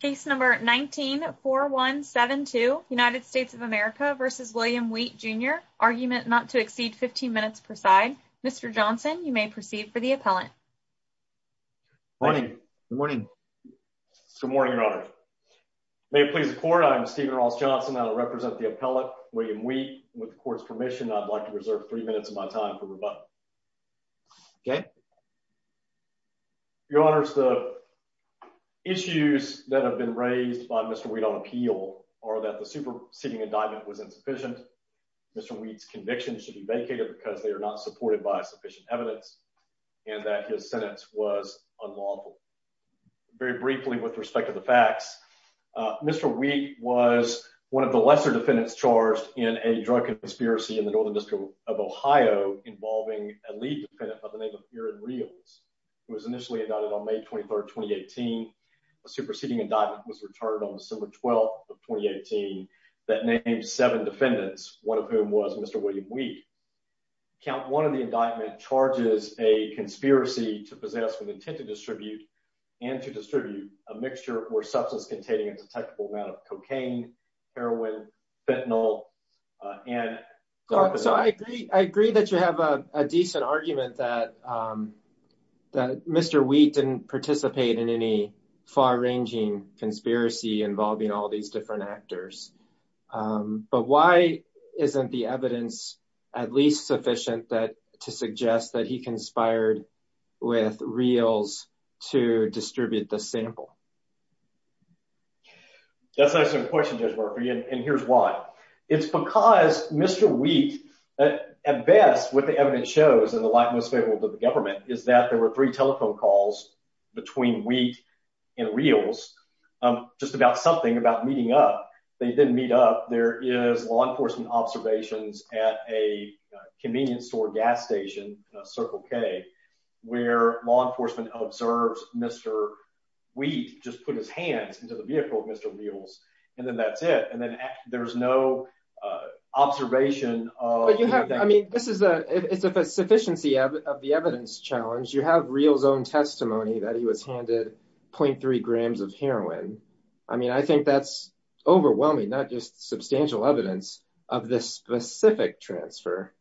Case number 19-4172 United States of America v. William Wheat Jr. Argument not to exceed 15 minutes per side. Mr. Johnson, you may proceed for the appellant. Morning. Good morning. Good morning, Your Honor. May it please the Court, I am Stephen Ross Johnson. I will represent the appellant, William Wheat. With the Court's permission, I'd like to reserve three minutes of my time for rebuttal. Okay. Your Honors, the issues that have been raised by Mr. Wheat on appeal are that the superseding indictment was insufficient, Mr. Wheat's conviction should be vacated because they are not supported by sufficient evidence, and that his sentence was unlawful. Very briefly, with respect to the facts, Mr. Wheat was one of the lesser defendants charged in a drug conspiracy in the Northern District of Ohio involving a lead defendant by the name of Aaron Rios, who was initially indicted on May 23rd, 2018. A superseding indictment was returned on December 12th of 2018 that named seven defendants, one of whom was Mr. William Wheat. Count one of the indictment charges a conspiracy to possess with intent to distribute and to distribute a mixture or substance containing a detectable amount of cocaine, heroin, fentanyl, and... So I agree that you have a decent argument that Mr. Wheat didn't participate in any far-ranging conspiracy involving all these different actors, but why isn't the evidence at least sufficient to suggest that he conspired with Rios to distribute the sample? That's an excellent question, Judge Murphy, and here's why. It's because Mr. Wheat, at best, what the evidence shows in the light most favorable to the government is that there were three telephone calls between Wheat and Rios, just about something about meeting up. They didn't meet up. There is law enforcement observations at a convenience store gas station, Circle K, where law enforcement observes Mr. Wheat just put his hands into the vehicle of Mr. Rios, and then that's it, and then there's no observation of... But you have, I mean, this is a, it's a sufficiency of the evidence challenge. You have Rios' own testimony that he was handed 0.3 grams of heroin. I mean, I think that's overwhelming, not just substantial evidence of this specific transfer.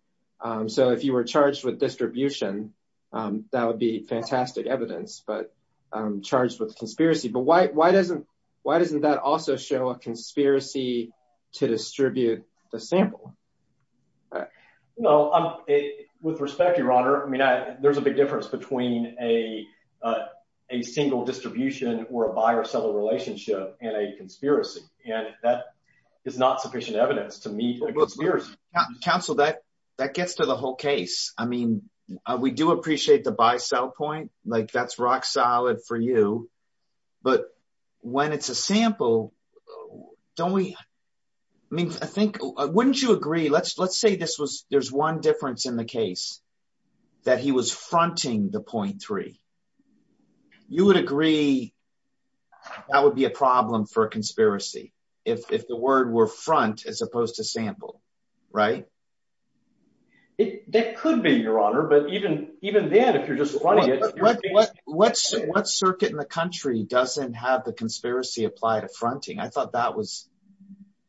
So if you were charged with distribution, that would be fantastic evidence, but I'm charged with conspiracy, but why doesn't that also show a conspiracy to distribute the sample? No, with respect, Your Honor, I mean, there's a big difference between a single distribution or a buyer-seller relationship and a conspiracy, and that is not sufficient evidence to meet a We do appreciate the buy-sell point, like that's rock solid for you, but when it's a sample, don't we, I mean, I think, wouldn't you agree, let's say this was, there's one difference in the case, that he was fronting the 0.3. You would agree that would be a problem for a conspiracy if the word were front as opposed to sample, right? It, that could be, Your Honor, but even then, if you're just fronting it, What circuit in the country doesn't have the conspiracy apply to fronting? I thought that was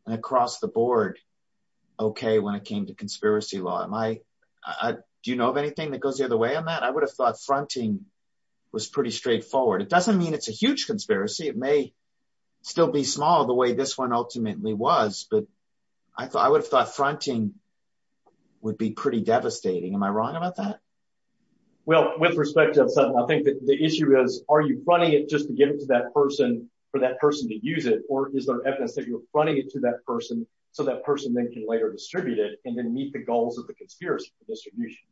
an across-the-board okay when it came to conspiracy law. Am I, do you know of anything that goes the other way on that? I would have thought fronting was pretty straightforward. It doesn't mean it's a huge conspiracy. It may still be small the way this one ultimately was, but I thought, I would have thought fronting would be pretty devastating. Am I wrong about that? Well, with respect to, I think that the issue is, are you running it just to give it to that person for that person to use it, or is there evidence that you're running it to that person so that person then can later distribute it and then meet the goals of the conspiracy distribution,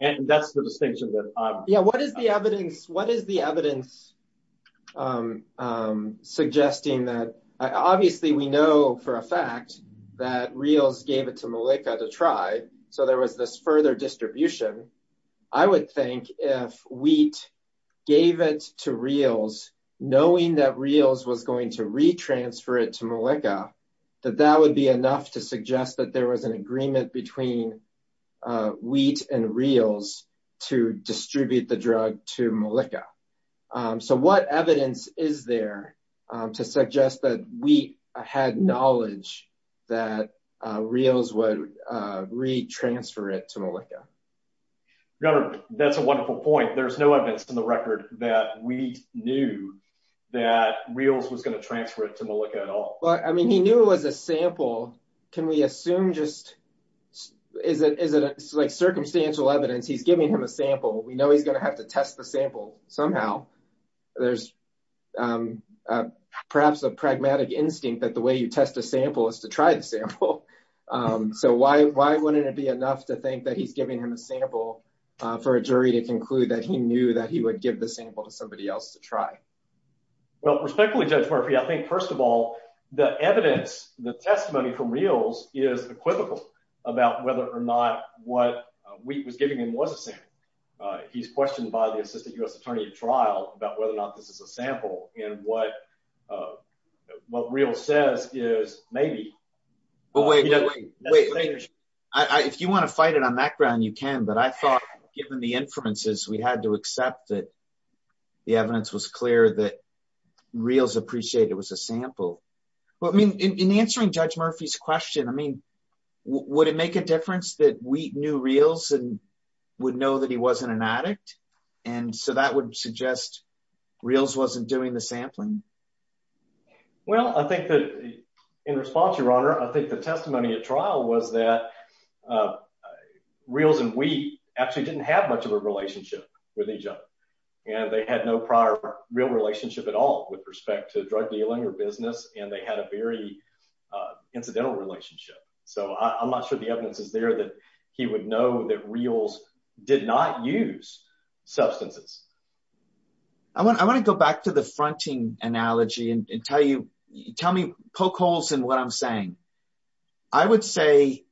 and that's the distinction that I'm. Yeah, what is the evidence, what is the evidence suggesting that, obviously, we know for a fact that Reals gave it to Malika to try, so there was this further distribution. I would think if Wheat gave it to Reals, knowing that Reals was going to re-transfer it to Malika, that that would be enough to suggest that there was an agreement between Wheat and Reals to distribute the drug to Malika. So what evidence is there to suggest that Wheat had knowledge that Reals would re-transfer it to Malika? That's a wonderful point. There's no evidence in the record that Wheat knew that Reals was going to transfer it to Malika at all. But, I mean, he knew it was a sample. Can we assume just, is it like circumstantial evidence? He's giving him a sample. We know he's going to have to test the sample somehow. There's perhaps a pragmatic instinct that the way you test a sample is to try the sample. So why wouldn't it be enough to think that he's giving him a sample for a jury to conclude that he knew that he would give the sample to somebody else to try? Well, respectfully, Judge Murphy, I think, first of all, the evidence, the testimony from Reals is equivocal about whether or not what Wheat was giving him was a sample. He's questioned by the assistant U.S. attorney at trial about whether or not this is a sample. And what Reals says is maybe. If you want to fight it on that ground, you can. But I thought, given the inferences, we had to accept that the evidence was clear that Reals appreciated it was a sample. Well, I mean, in answering Judge Murphy's question, I mean, would it make a difference that Wheat knew Reals and would know that he wasn't an addict? And so that would suggest Reals wasn't doing the sampling? Well, I think that in response, Your Honor, I think the testimony at trial was that Reals and Wheat actually didn't have much of a relationship with each other. And they had no prior real relationship at all with respect to drug dealing or business. And they had a very incidental relationship. So I'm not sure the evidence is there that he would know that Reals did not use substances. I want to go back to the fronting analogy and tell you, tell me, poke holes in what I'm saying. I would say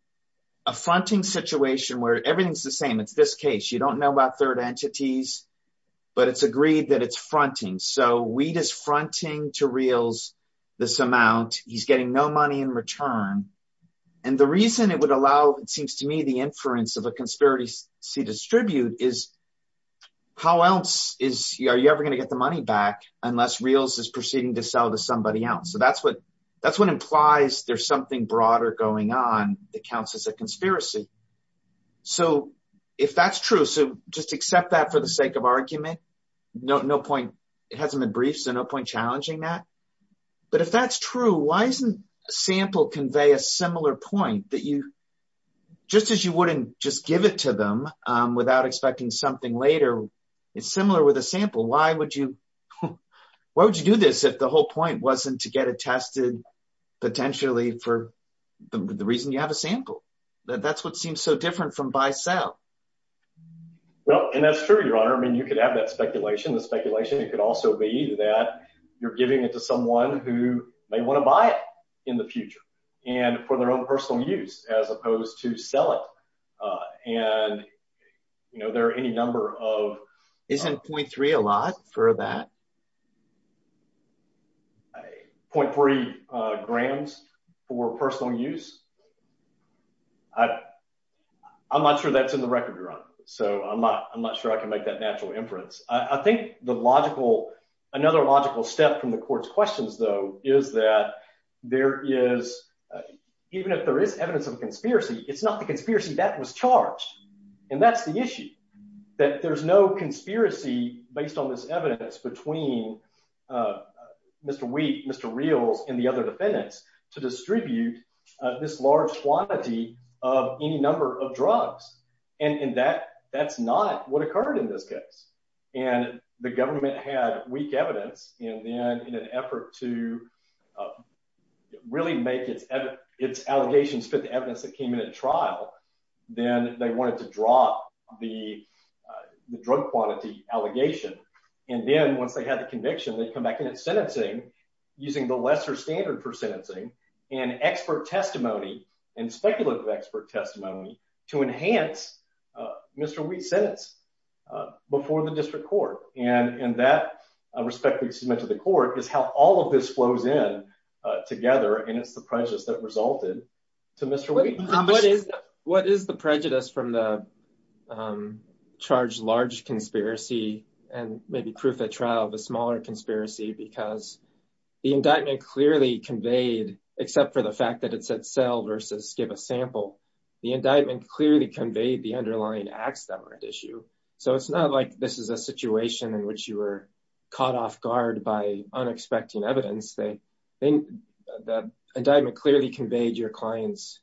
a fronting situation where everything's the same. It's this case. You don't know about third entities, but it's agreed that it's fronting. So Wheat is fronting to Reals this amount. He's getting no money in return. And the reason it would allow, it seems to me, the inference of a conspiracy to distribute is how else are you ever going to get the money back unless Reals is proceeding to sell to somebody else? So that's what implies there's something broader going on that counts as a conspiracy. So if that's true, so just accept that for the sake of argument. No point, it hasn't been briefed, so no point challenging that. But if that's true, why isn't a sample convey a similar point that you, just as you wouldn't just give it to them without expecting something later, it's similar with a sample. Why would you do this if the whole wasn't to get it tested potentially for the reason you have a sample? That's what seems so different from buy-sell. Well, and that's true, your honor. I mean, you could have that speculation. The speculation, it could also be that you're giving it to someone who may want to buy it in the future and for their own personal use as opposed to sell it. And, you know, any number of... Isn't 0.3 a lot for that? 0.3 grams for personal use? I'm not sure that's in the record, your honor. So I'm not sure I can make that natural inference. I think the logical, another logical step from the court's questions though, is that there is, even if there is evidence of conspiracy, it's not the conspiracy that was charged. And that's the issue, that there's no conspiracy based on this evidence between Mr. Wheat, Mr. Reals and the other defendants to distribute this large quantity of any number of drugs. And that's not what occurred in this case. And the government had weak evidence and then in an effort to really make its allegations fit the evidence that came in at trial, then they wanted to drop the drug quantity allegation. And then once they had the conviction, they'd come back in at sentencing using the lesser standard for sentencing and expert testimony and speculative expert testimony to enhance Mr. Wheat's sentence before the district court. And that, respectfully to the court, is how all of this flows in together. And it's the prejudice that resulted to Mr. Wheat. What is the prejudice from the charged large conspiracy and maybe proof at trial of a smaller conspiracy? Because the indictment clearly conveyed, except for the fact that it said sell versus give a sample, the indictment clearly conveyed the underlying acts that were at issue. So it's not like this is a situation in which you were caught off guard by unexpected evidence. The indictment clearly conveyed your client's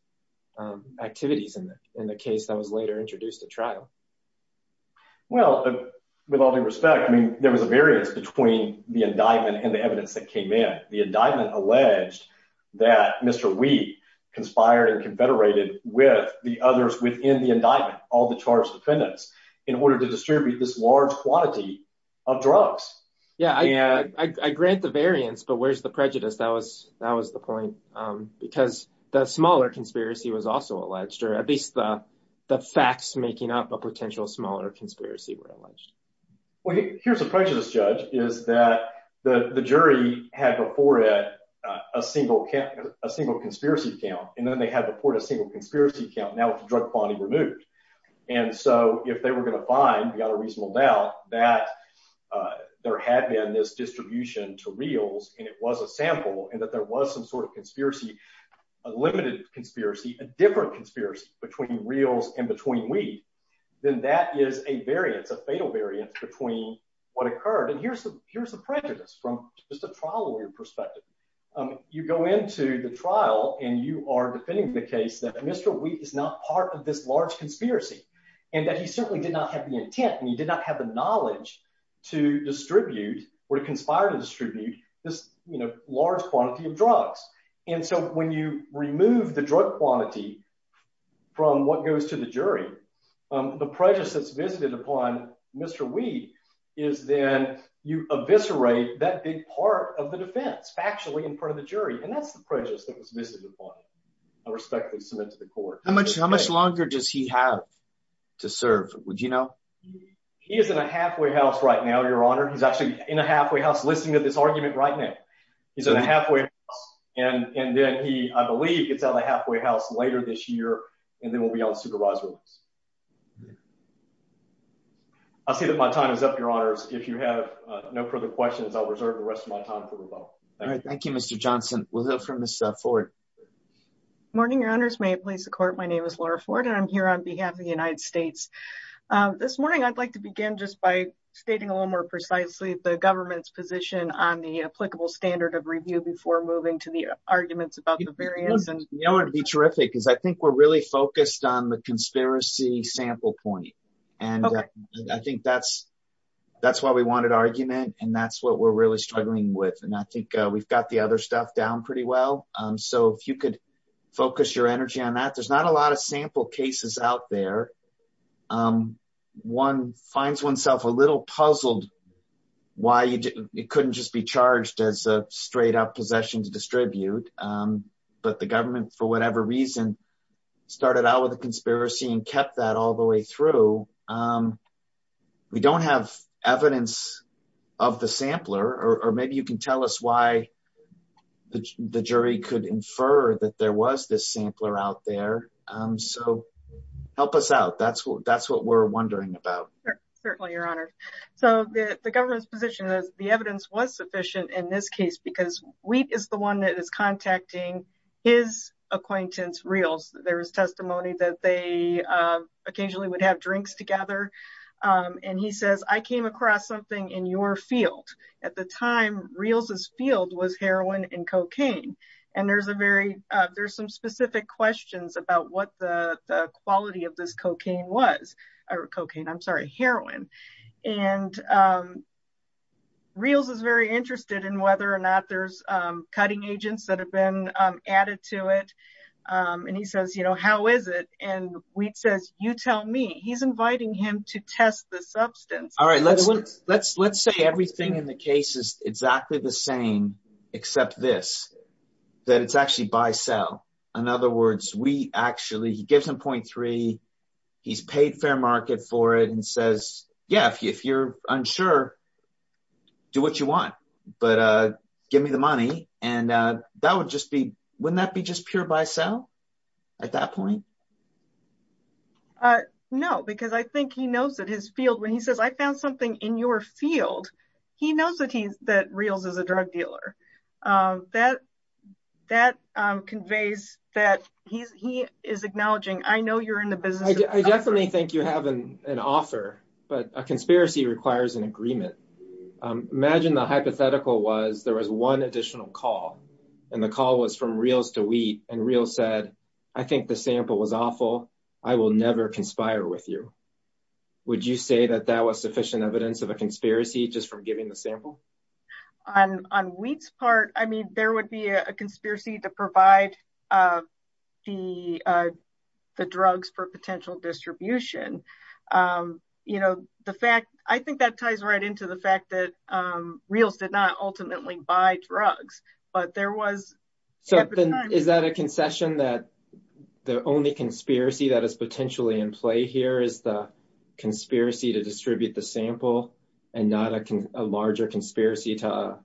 activities in the case that was later introduced at trial. Well, with all due respect, I mean, there was a variance between the indictment and the evidence that came in. The indictment alleged that Mr. Wheat conspired and confederated with the others within the indictment, all the charged defendants, in order to distribute this large quantity of drugs. Yeah, I grant the variance, but where's the prejudice? That was the point, because the smaller conspiracy was also alleged, or at least the facts making up a potential smaller conspiracy were alleged. Well, here's the prejudice, Judge, is that the jury had before it a single conspiracy count, and then they had before it a single conspiracy count, now with the drug quantity removed. And so if they were going to find, without a reasonable doubt, that there had been this distribution to Reals, and it was a sample, and that there was some sort of conspiracy, a limited conspiracy, a different conspiracy between Reals and between Wheat, then that is a variance, a fatal variance, between what occurred. And here's the prejudice from just a trial lawyer perspective. You go into the trial, and you are defending the case that Mr. Wheat is not part of this large conspiracy, and that he certainly did not have the intent, and he did not have the knowledge to distribute, or to conspire to distribute, this large quantity of drugs. And so when you remove the drug quantity from what goes to the jury, the prejudice that's visited upon Mr. Wheat is then you eviscerate that big part of the defense, factually, in front of the jury. And that's the prejudice that was visited upon, I respectfully submit to the court. How much longer does he have to serve, would you know? He is in a halfway house right now, your honor. He's actually in a halfway house listening to this argument right now. He's in a halfway house, and then he, I believe, gets out of the halfway house later this year, and then will be on supervised release. I'll say that my time is up, if you have no further questions, I'll reserve the rest of my time for the vote. All right, thank you, Mr. Johnson. We'll hear from Ms. Ford. Good morning, your honors. May it please the court, my name is Laura Ford, and I'm here on behalf of the United States. This morning, I'd like to begin just by stating a little more precisely the government's position on the applicable standard of review before moving to the arguments about the variance. You know what would be terrific, is I think we're really pointing to a conspiracy sample point, and I think that's why we wanted argument, and that's what we're really struggling with, and I think we've got the other stuff down pretty well, so if you could focus your energy on that. There's not a lot of sample cases out there. One finds oneself a little puzzled why it couldn't just be charged as a straight-up possession to distribute, but the government, for whatever reason, started out with a conspiracy and kept that all the way through. We don't have evidence of the sampler, or maybe you can tell us why the jury could infer that there was this sampler out there, so help us out. That's what we're wondering about. Certainly, your honor. So, the government's position is the evidence was sufficient in this case because Wheat is the one that is contacting his acquaintance, Reels. There's testimony that they occasionally would have drinks together, and he says, I came across something in your field. At the time, Reels's field was heroin and cocaine, and there's some specific questions about what the quality of this cocaine was, or cocaine, I'm sorry, heroin, and Reels is very interested in whether or not there's cutting agents that have been added to it, and he says, you know, how is it? And Wheat says, you tell me. He's inviting him to test the substance. All right, let's say everything in the case is exactly the same, except this, that it's actually buy-sell. In other words, Wheat actually, he gives him 0.3, he's paid fair market for it, and says, yeah, if you're unsure, do what you want, but give me the money, and that would just be, wouldn't that be just pure buy-sell at that point? No, because I think he knows that his field, when he says, I found something in your field, he knows that he's, that Reels is a drug dealer. That conveys that he is acknowledging, I know you're in the business. I definitely think you have an offer, but a conspiracy requires an offer, and the hypothetical was, there was one additional call, and the call was from Reels to Wheat, and Reels said, I think the sample was awful. I will never conspire with you. Would you say that that was sufficient evidence of a conspiracy, just from giving the sample? On Wheat's part, I mean, there would be a conspiracy to provide the drugs for potential distribution. You know, the fact, I think that Reels did not ultimately buy drugs, but there was. So then, is that a concession, that the only conspiracy that is potentially in play here, is the conspiracy to distribute the sample, and not a larger conspiracy to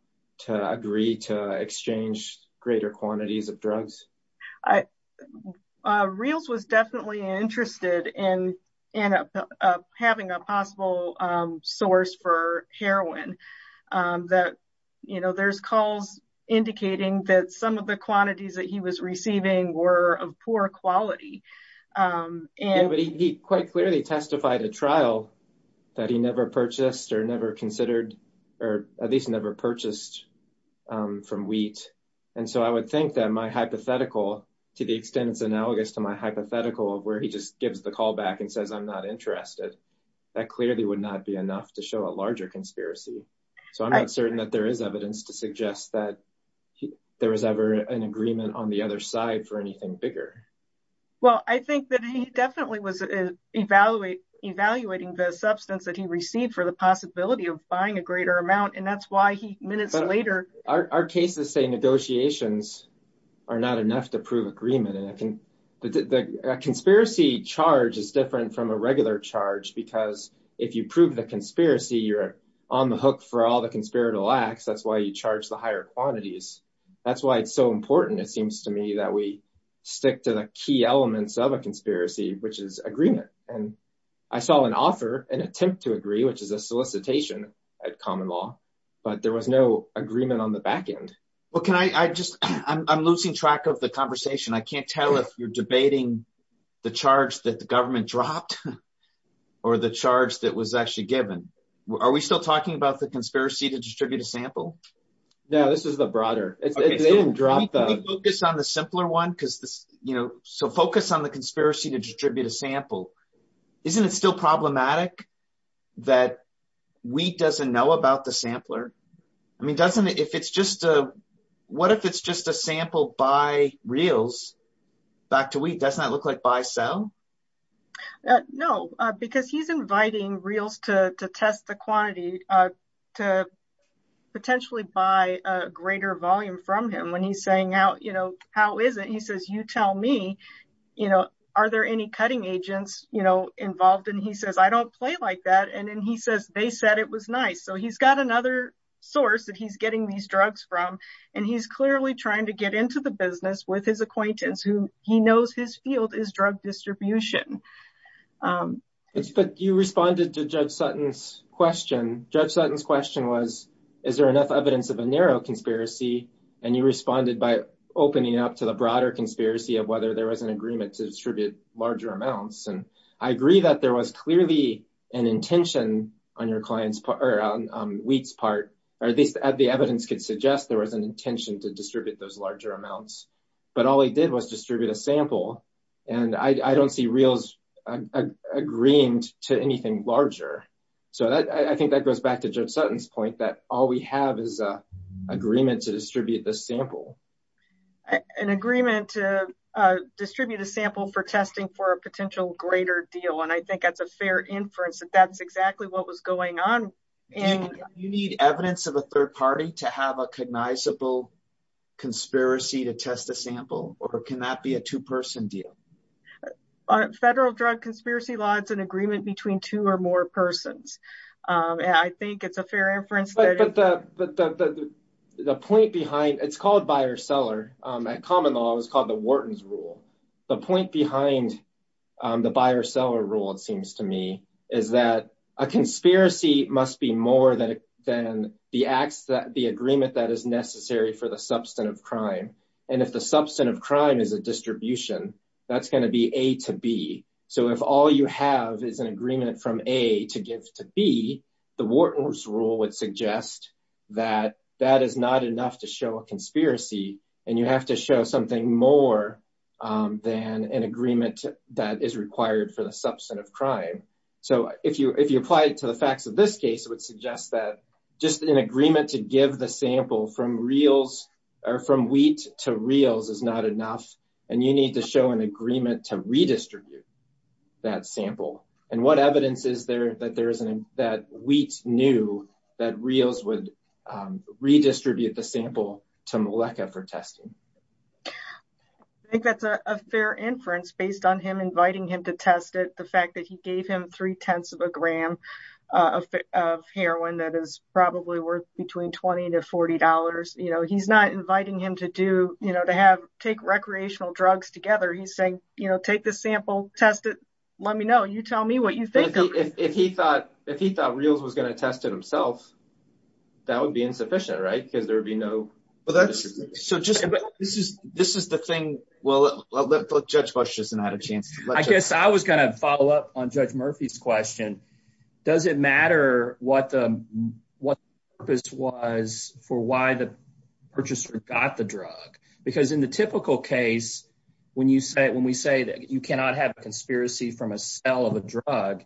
agree to exchange greater quantities of drugs? Reels was definitely interested in having a possible source for heroin. That, you know, there's calls indicating that some of the quantities that he was receiving were of poor quality. Yeah, but he quite clearly testified a trial that he never purchased, or never considered, or at least never purchased from Wheat, and so I would think that my hypothetical, to the extent it's analogous to my hypothetical, of where he just interested, that clearly would not be enough to show a larger conspiracy. So I'm not certain that there is evidence to suggest that there was ever an agreement on the other side for anything bigger. Well, I think that he definitely was evaluating the substance that he received for the possibility of buying a greater amount, and that's why he, minutes later. Our cases say negotiations are not enough to prove agreement, and the conspiracy charge is different from a regular charge, because if you prove the conspiracy, you're on the hook for all the conspiratorial acts. That's why you charge the higher quantities. That's why it's so important, it seems to me, that we stick to the key elements of a conspiracy, which is agreement. And I saw an offer, an attempt to agree, which is a solicitation at common law, but there was no agreement on the back end. Well, can I just, I'm losing track of the conversation. I can't tell if you're debating the charge that the government dropped, or the charge that was actually given. Are we still talking about the conspiracy to distribute a sample? No, this is the broader. It didn't drop though. Can we focus on the simpler one? Because this, you know, so focus on the conspiracy to distribute a sample. Isn't it still if it's just a sample by reels back to wheat? Doesn't that look like buy-sell? No, because he's inviting reels to test the quantity, to potentially buy a greater volume from him when he's saying, you know, how is it? He says, you tell me, you know, are there any cutting agents, you know, involved? And he says, I don't play like that. And then he says, they said it was nice. So he's got another source that he's getting these drugs from, and he's clearly trying to get into the business with his acquaintance who he knows his field is drug distribution. You responded to Judge Sutton's question. Judge Sutton's question was, is there enough evidence of a narrow conspiracy? And you responded by opening up to the broader conspiracy of whether there was an agreement to distribute larger amounts. And I agree that there was clearly an intention on your client's part or on wheat's part, or at least the evidence could suggest there was an intention to distribute those larger amounts. But all he did was distribute a sample. And I don't see reels agreeing to anything larger. So I think that goes back to Judge Sutton's point that all we have is a agreement to distribute this sample. An agreement to distribute a sample for testing for a potential greater deal. And I think that's a fair inference that that's exactly what was going on. And you need evidence of a third party to have a cognizable conspiracy to test a sample, or can that be a two-person deal? Federal drug conspiracy law, it's an agreement between two or more persons. And I think it's a fair inference. But the point behind, it's called buyer seller, at common law, it was called the Wharton's rule. The point behind the buyer seller rule, it seems to me, is that a conspiracy must be more than the agreement that is necessary for the substantive crime. And if the substantive crime is a distribution, that's going to be A to B. So if all you have is an agreement from A to give to B, the Wharton's rule would suggest that that is not enough to show a conspiracy. And you have to show something more than an agreement that is required for the substantive crime. So if you apply it to the facts of this case, it would suggest that just an agreement to give the sample from Wheat to Reals is not enough. And you need to show an agreement to redistribute that sample. And what evidence is there that Wheat knew that Reals would redistribute the sample to Meleca for testing? I think that's a fair inference based on him inviting him to test it. The fact that he gave him three-tenths of a gram of heroin that is probably worth between $20 to $40. He's not inviting him to take recreational drugs together. He's saying, take this sample, test it, let me know. You tell me what you think. If he thought Reals was going to test it himself, that would be insufficient, right? Because there would be no... This is the thing. Well, let Judge Busch just not a chance. I guess I was going to follow up on Judge Murphy's question. Does it matter what the purpose was for why the purchaser got the drug? Because in the typical case, when we say that you cannot have a conspiracy from a sell of a drug,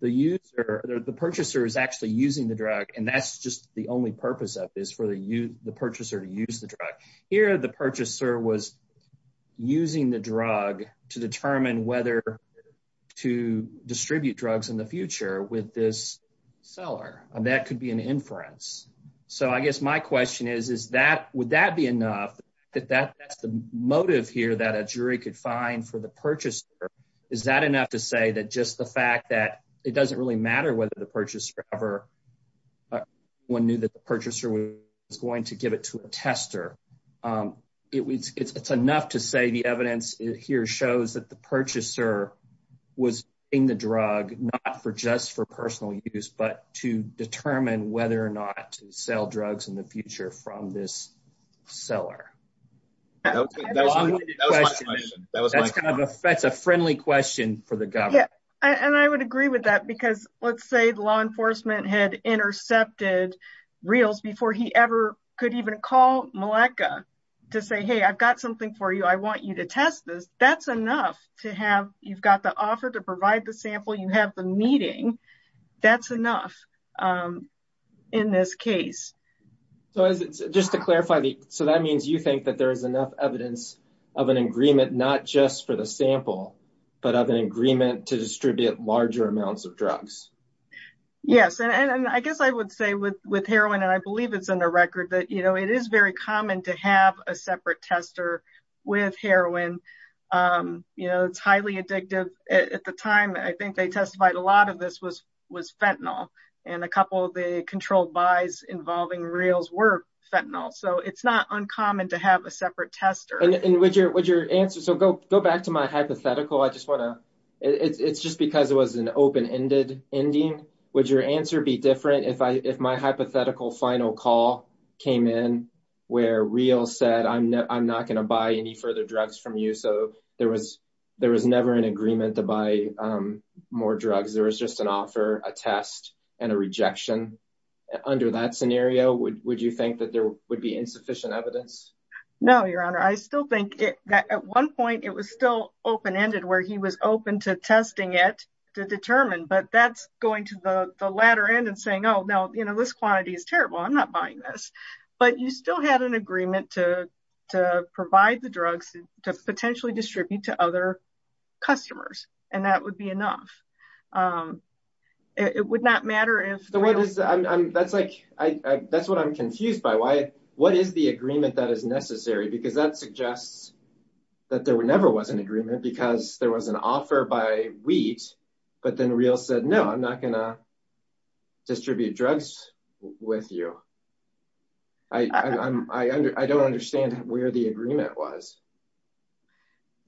the purchaser is actually using the drug. And that's just the only purpose of this, for the purchaser to use the drug. Here, the purchaser was using the drug to determine whether to distribute drugs in the future with this seller. And that could be an inference. So I guess my question is, would that be enough? That's the motive here that a jury could find for the purchaser. Is that enough to say that just the fact that it doesn't really matter whether the purchaser ever... One knew that the purchaser was going to give it to a tester. It's enough to say the evidence here shows that the purchaser was in the drug, not for just for personal use, but to determine whether or not to sell drugs in the future from this seller. That's a friendly question for the government. And I would agree with that because let's say the law enforcement had intercepted Reals before he ever could even call Malacca to say, hey, I've got something for you. I want you to test this. That's enough to have... You've got the offer to provide the sample. You have the meeting. That's enough in this case. So just to clarify, so that means you think that there is enough evidence of an agreement, not just for the sample, but of an agreement to distribute larger amounts of drugs? Yes. And I guess I would say with heroin, and I believe it's in the record that it is very common to have a separate tester with heroin. It's highly addictive. At the time, I think they testified a lot of this was fentanyl. And a couple of the controlled buys involving Reals were fentanyl. So it's not uncommon to have a separate tester. And would your answer... So go back to my hypothetical. I just want to... It's just because it was an open-ended ending. Would your answer be different if my hypothetical final call came in where Reals said, I'm not going to buy any further drugs from you? So there was never an agreement to buy more drugs. There was just an offer, a test, and a rejection. Under that scenario, would you think that there would be insufficient evidence? No, Your Honor. I still think that at one point, it was still open-ended where he was open to testing it to determine. But that's going to the latter end and saying, oh, no, this quantity is buying this. But you still had an agreement to provide the drugs to potentially distribute to other customers. And that would be enough. It would not matter if... That's what I'm confused by. What is the agreement that is necessary? Because that suggests that there never was an agreement because there was an offer by Distribute Drugs with you. I don't understand where the agreement was.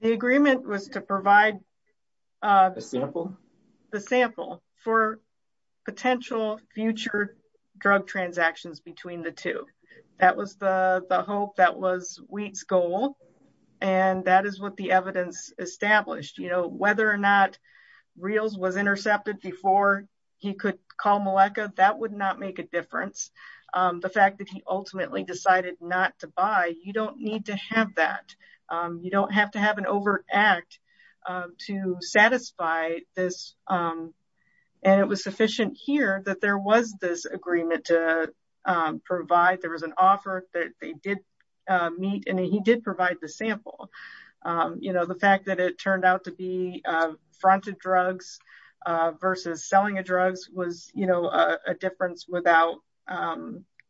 The agreement was to provide... A sample? The sample for potential future drug transactions between the two. That was the hope. That was Wheat's goal. And that is what the evidence established. Whether or not Reals was intercepted before he could call Meleca, that would not make a difference. The fact that he ultimately decided not to buy, you don't need to have that. You don't have to have an overact to satisfy this. And it was sufficient here that there was this agreement to provide. There was an offer that they did meet, and he did provide the sample. The fact that it turned out to be fronted drugs versus selling of drugs was a difference without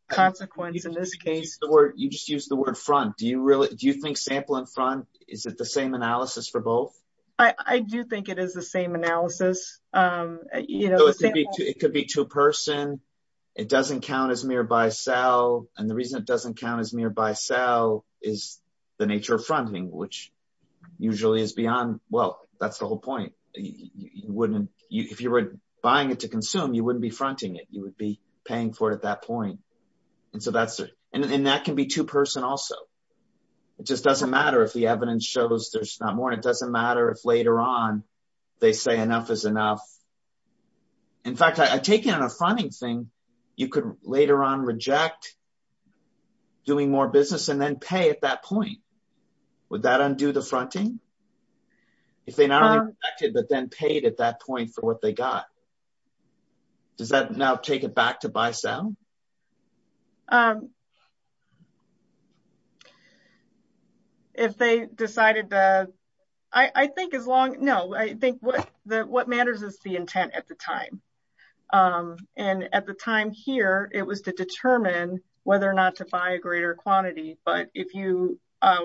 consequence in this case. You just used the word front. Do you think sample and front, is it the same analysis for both? I do think it is the same analysis. It could be to a person. It doesn't count as nearby sell. And the reason it doesn't count as nearby sell is the nature of fronting, which usually is beyond... Well, that's the whole point. You wouldn't... If you were buying it to consume, you wouldn't be fronting it. You would be paying for it at that point. And so that's... And that can be two person also. It just doesn't matter if the evidence shows there's not more. It doesn't matter if later on they say enough is enough. In fact, I take it on a fronting thing, you could later on reject doing more business and then pay at that point. Would that undo the fronting? If they not only rejected, but then paid at that point for what they got. Does that now take it back to buy sell? If they decided to... I think as long... No, I think what matters is the intent at the time. And at the time here, it was to determine whether or not to buy a greater quantity. But if you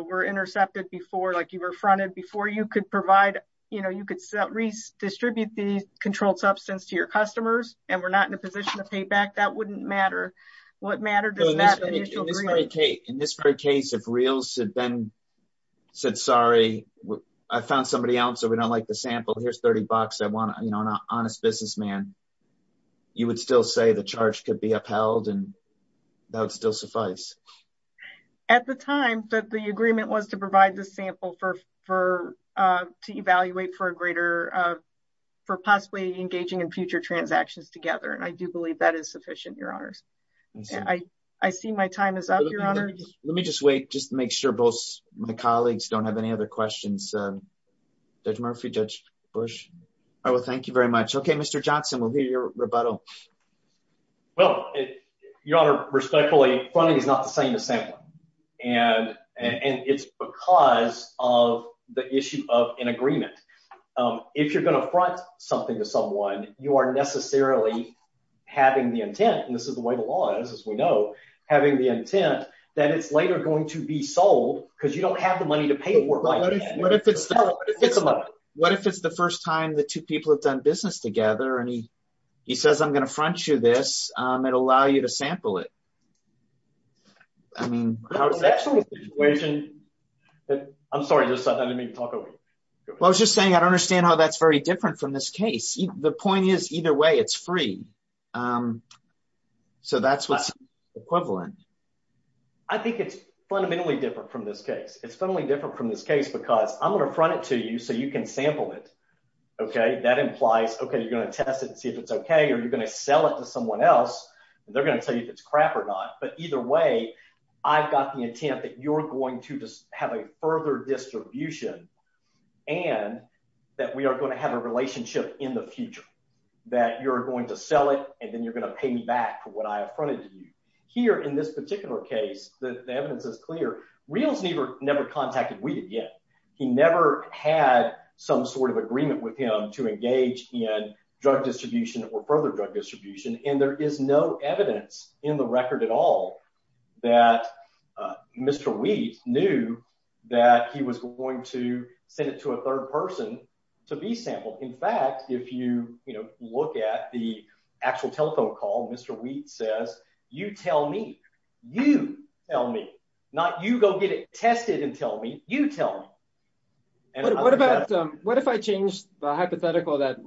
were intercepted before, like you were fronted before, you could provide... You could redistribute the controlled substance to your customers and we're not in a position to pay back, that wouldn't matter. What matters is that initial agreement. In this very case, if Reals had been... Said, sorry, I found somebody else. We don't like the sample. Here's 30 bucks. I want an honest businessman. You would still say the charge could be upheld and that would still suffice. At the time that the agreement was to provide the sample to evaluate for a greater... For possibly engaging in future transactions together. And I do believe that is sufficient, your honors. I see my time is up, your honor. Let me just wait, just to make sure both my colleagues don't have any other questions. Judge Murphy, Judge Bush. Oh, thank you very much. Okay, Mr. Johnson, we'll hear your rebuttal. Well, your honor, respectfully, funding is not the same as sampling. And it's because of the issue of an agreement. If you're going to front something to someone, you are necessarily having the intent, and this is the way the law is, as we know, having the intent that it's later going to be sold because you don't have the money to pay for it right then. What if it's the first time the two people have done business together and he says, I'm going to front you this, it'll allow you to sample it. I mean... Now it's actually a situation that... I'm sorry, let me talk over you. Well, I was just saying, I don't understand how that's very different from this case. The point is either way, it's free. So that's what's equivalent. I think it's fundamentally different from this case. It's fundamentally different from this case because I'm going to front it to you so you can sample it. Okay? That implies, you're going to test it and see if it's okay, or you're going to sell it to someone else, and they're going to tell you if it's crap or not. But either way, I've got the intent that you're going to have a further distribution and that we are going to have a relationship in the future, that you're going to sell it and then you're going to pay me back for what I have fronted to you. Here in this particular case, the evidence is clear. Reales never contacted Weeded yet. He never had some sort of agreement with him to engage in drug distribution or further drug distribution. And there is no evidence in the record at all that Mr. Weed knew that he was going to send it to a third person to be sampled. In fact, if you look at the actual telephone call, Mr. Weed says, you tell me, you tell me, not you go get it tested and tell me, you tell me. What if I changed the hypothetical that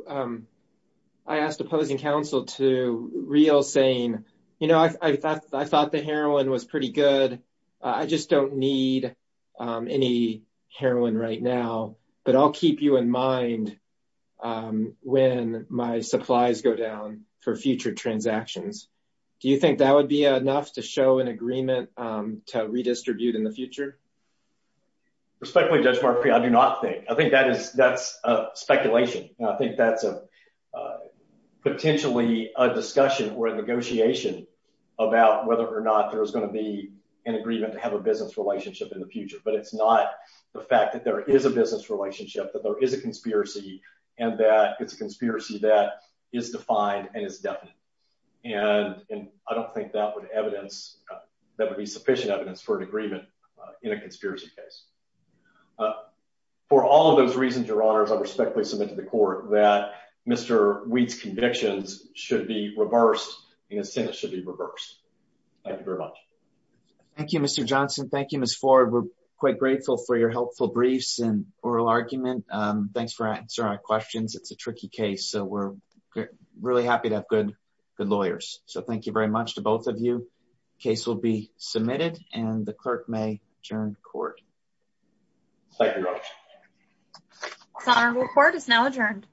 I asked opposing counsel to Reales saying, I thought the heroin was pretty good. I just don't need any heroin right now, but I'll keep you in mind when my supplies go down for future transactions. Do you think that would be enough to show an agreement to redistribute in the future? Respectfully, Judge Murphy, I do not think. I think that is, that's a speculation. And I think that's a potentially a discussion or a negotiation about whether or not there's going to be an agreement to have a business relationship in the future. But it's not the fact that there is a business relationship, that there is a conspiracy and that it's a conspiracy that is defined and is definite. And I don't think that would evidence that would be sufficient evidence for an agreement in a conspiracy case. For all of those reasons, your honors, I respectfully submit to the court that Mr. Weed's convictions should be reversed and his sentence should be reversed. Thank you very much. Thank you, Mr. Johnson. Thank you, Ms. Ford. We're quite grateful for your helpful briefs and oral argument. Thanks for answering our questions. It's a tricky case, so we're really happy to have good, good lawyers. So thank you very much to both of you. Case will be adjourned. Court is now adjourned.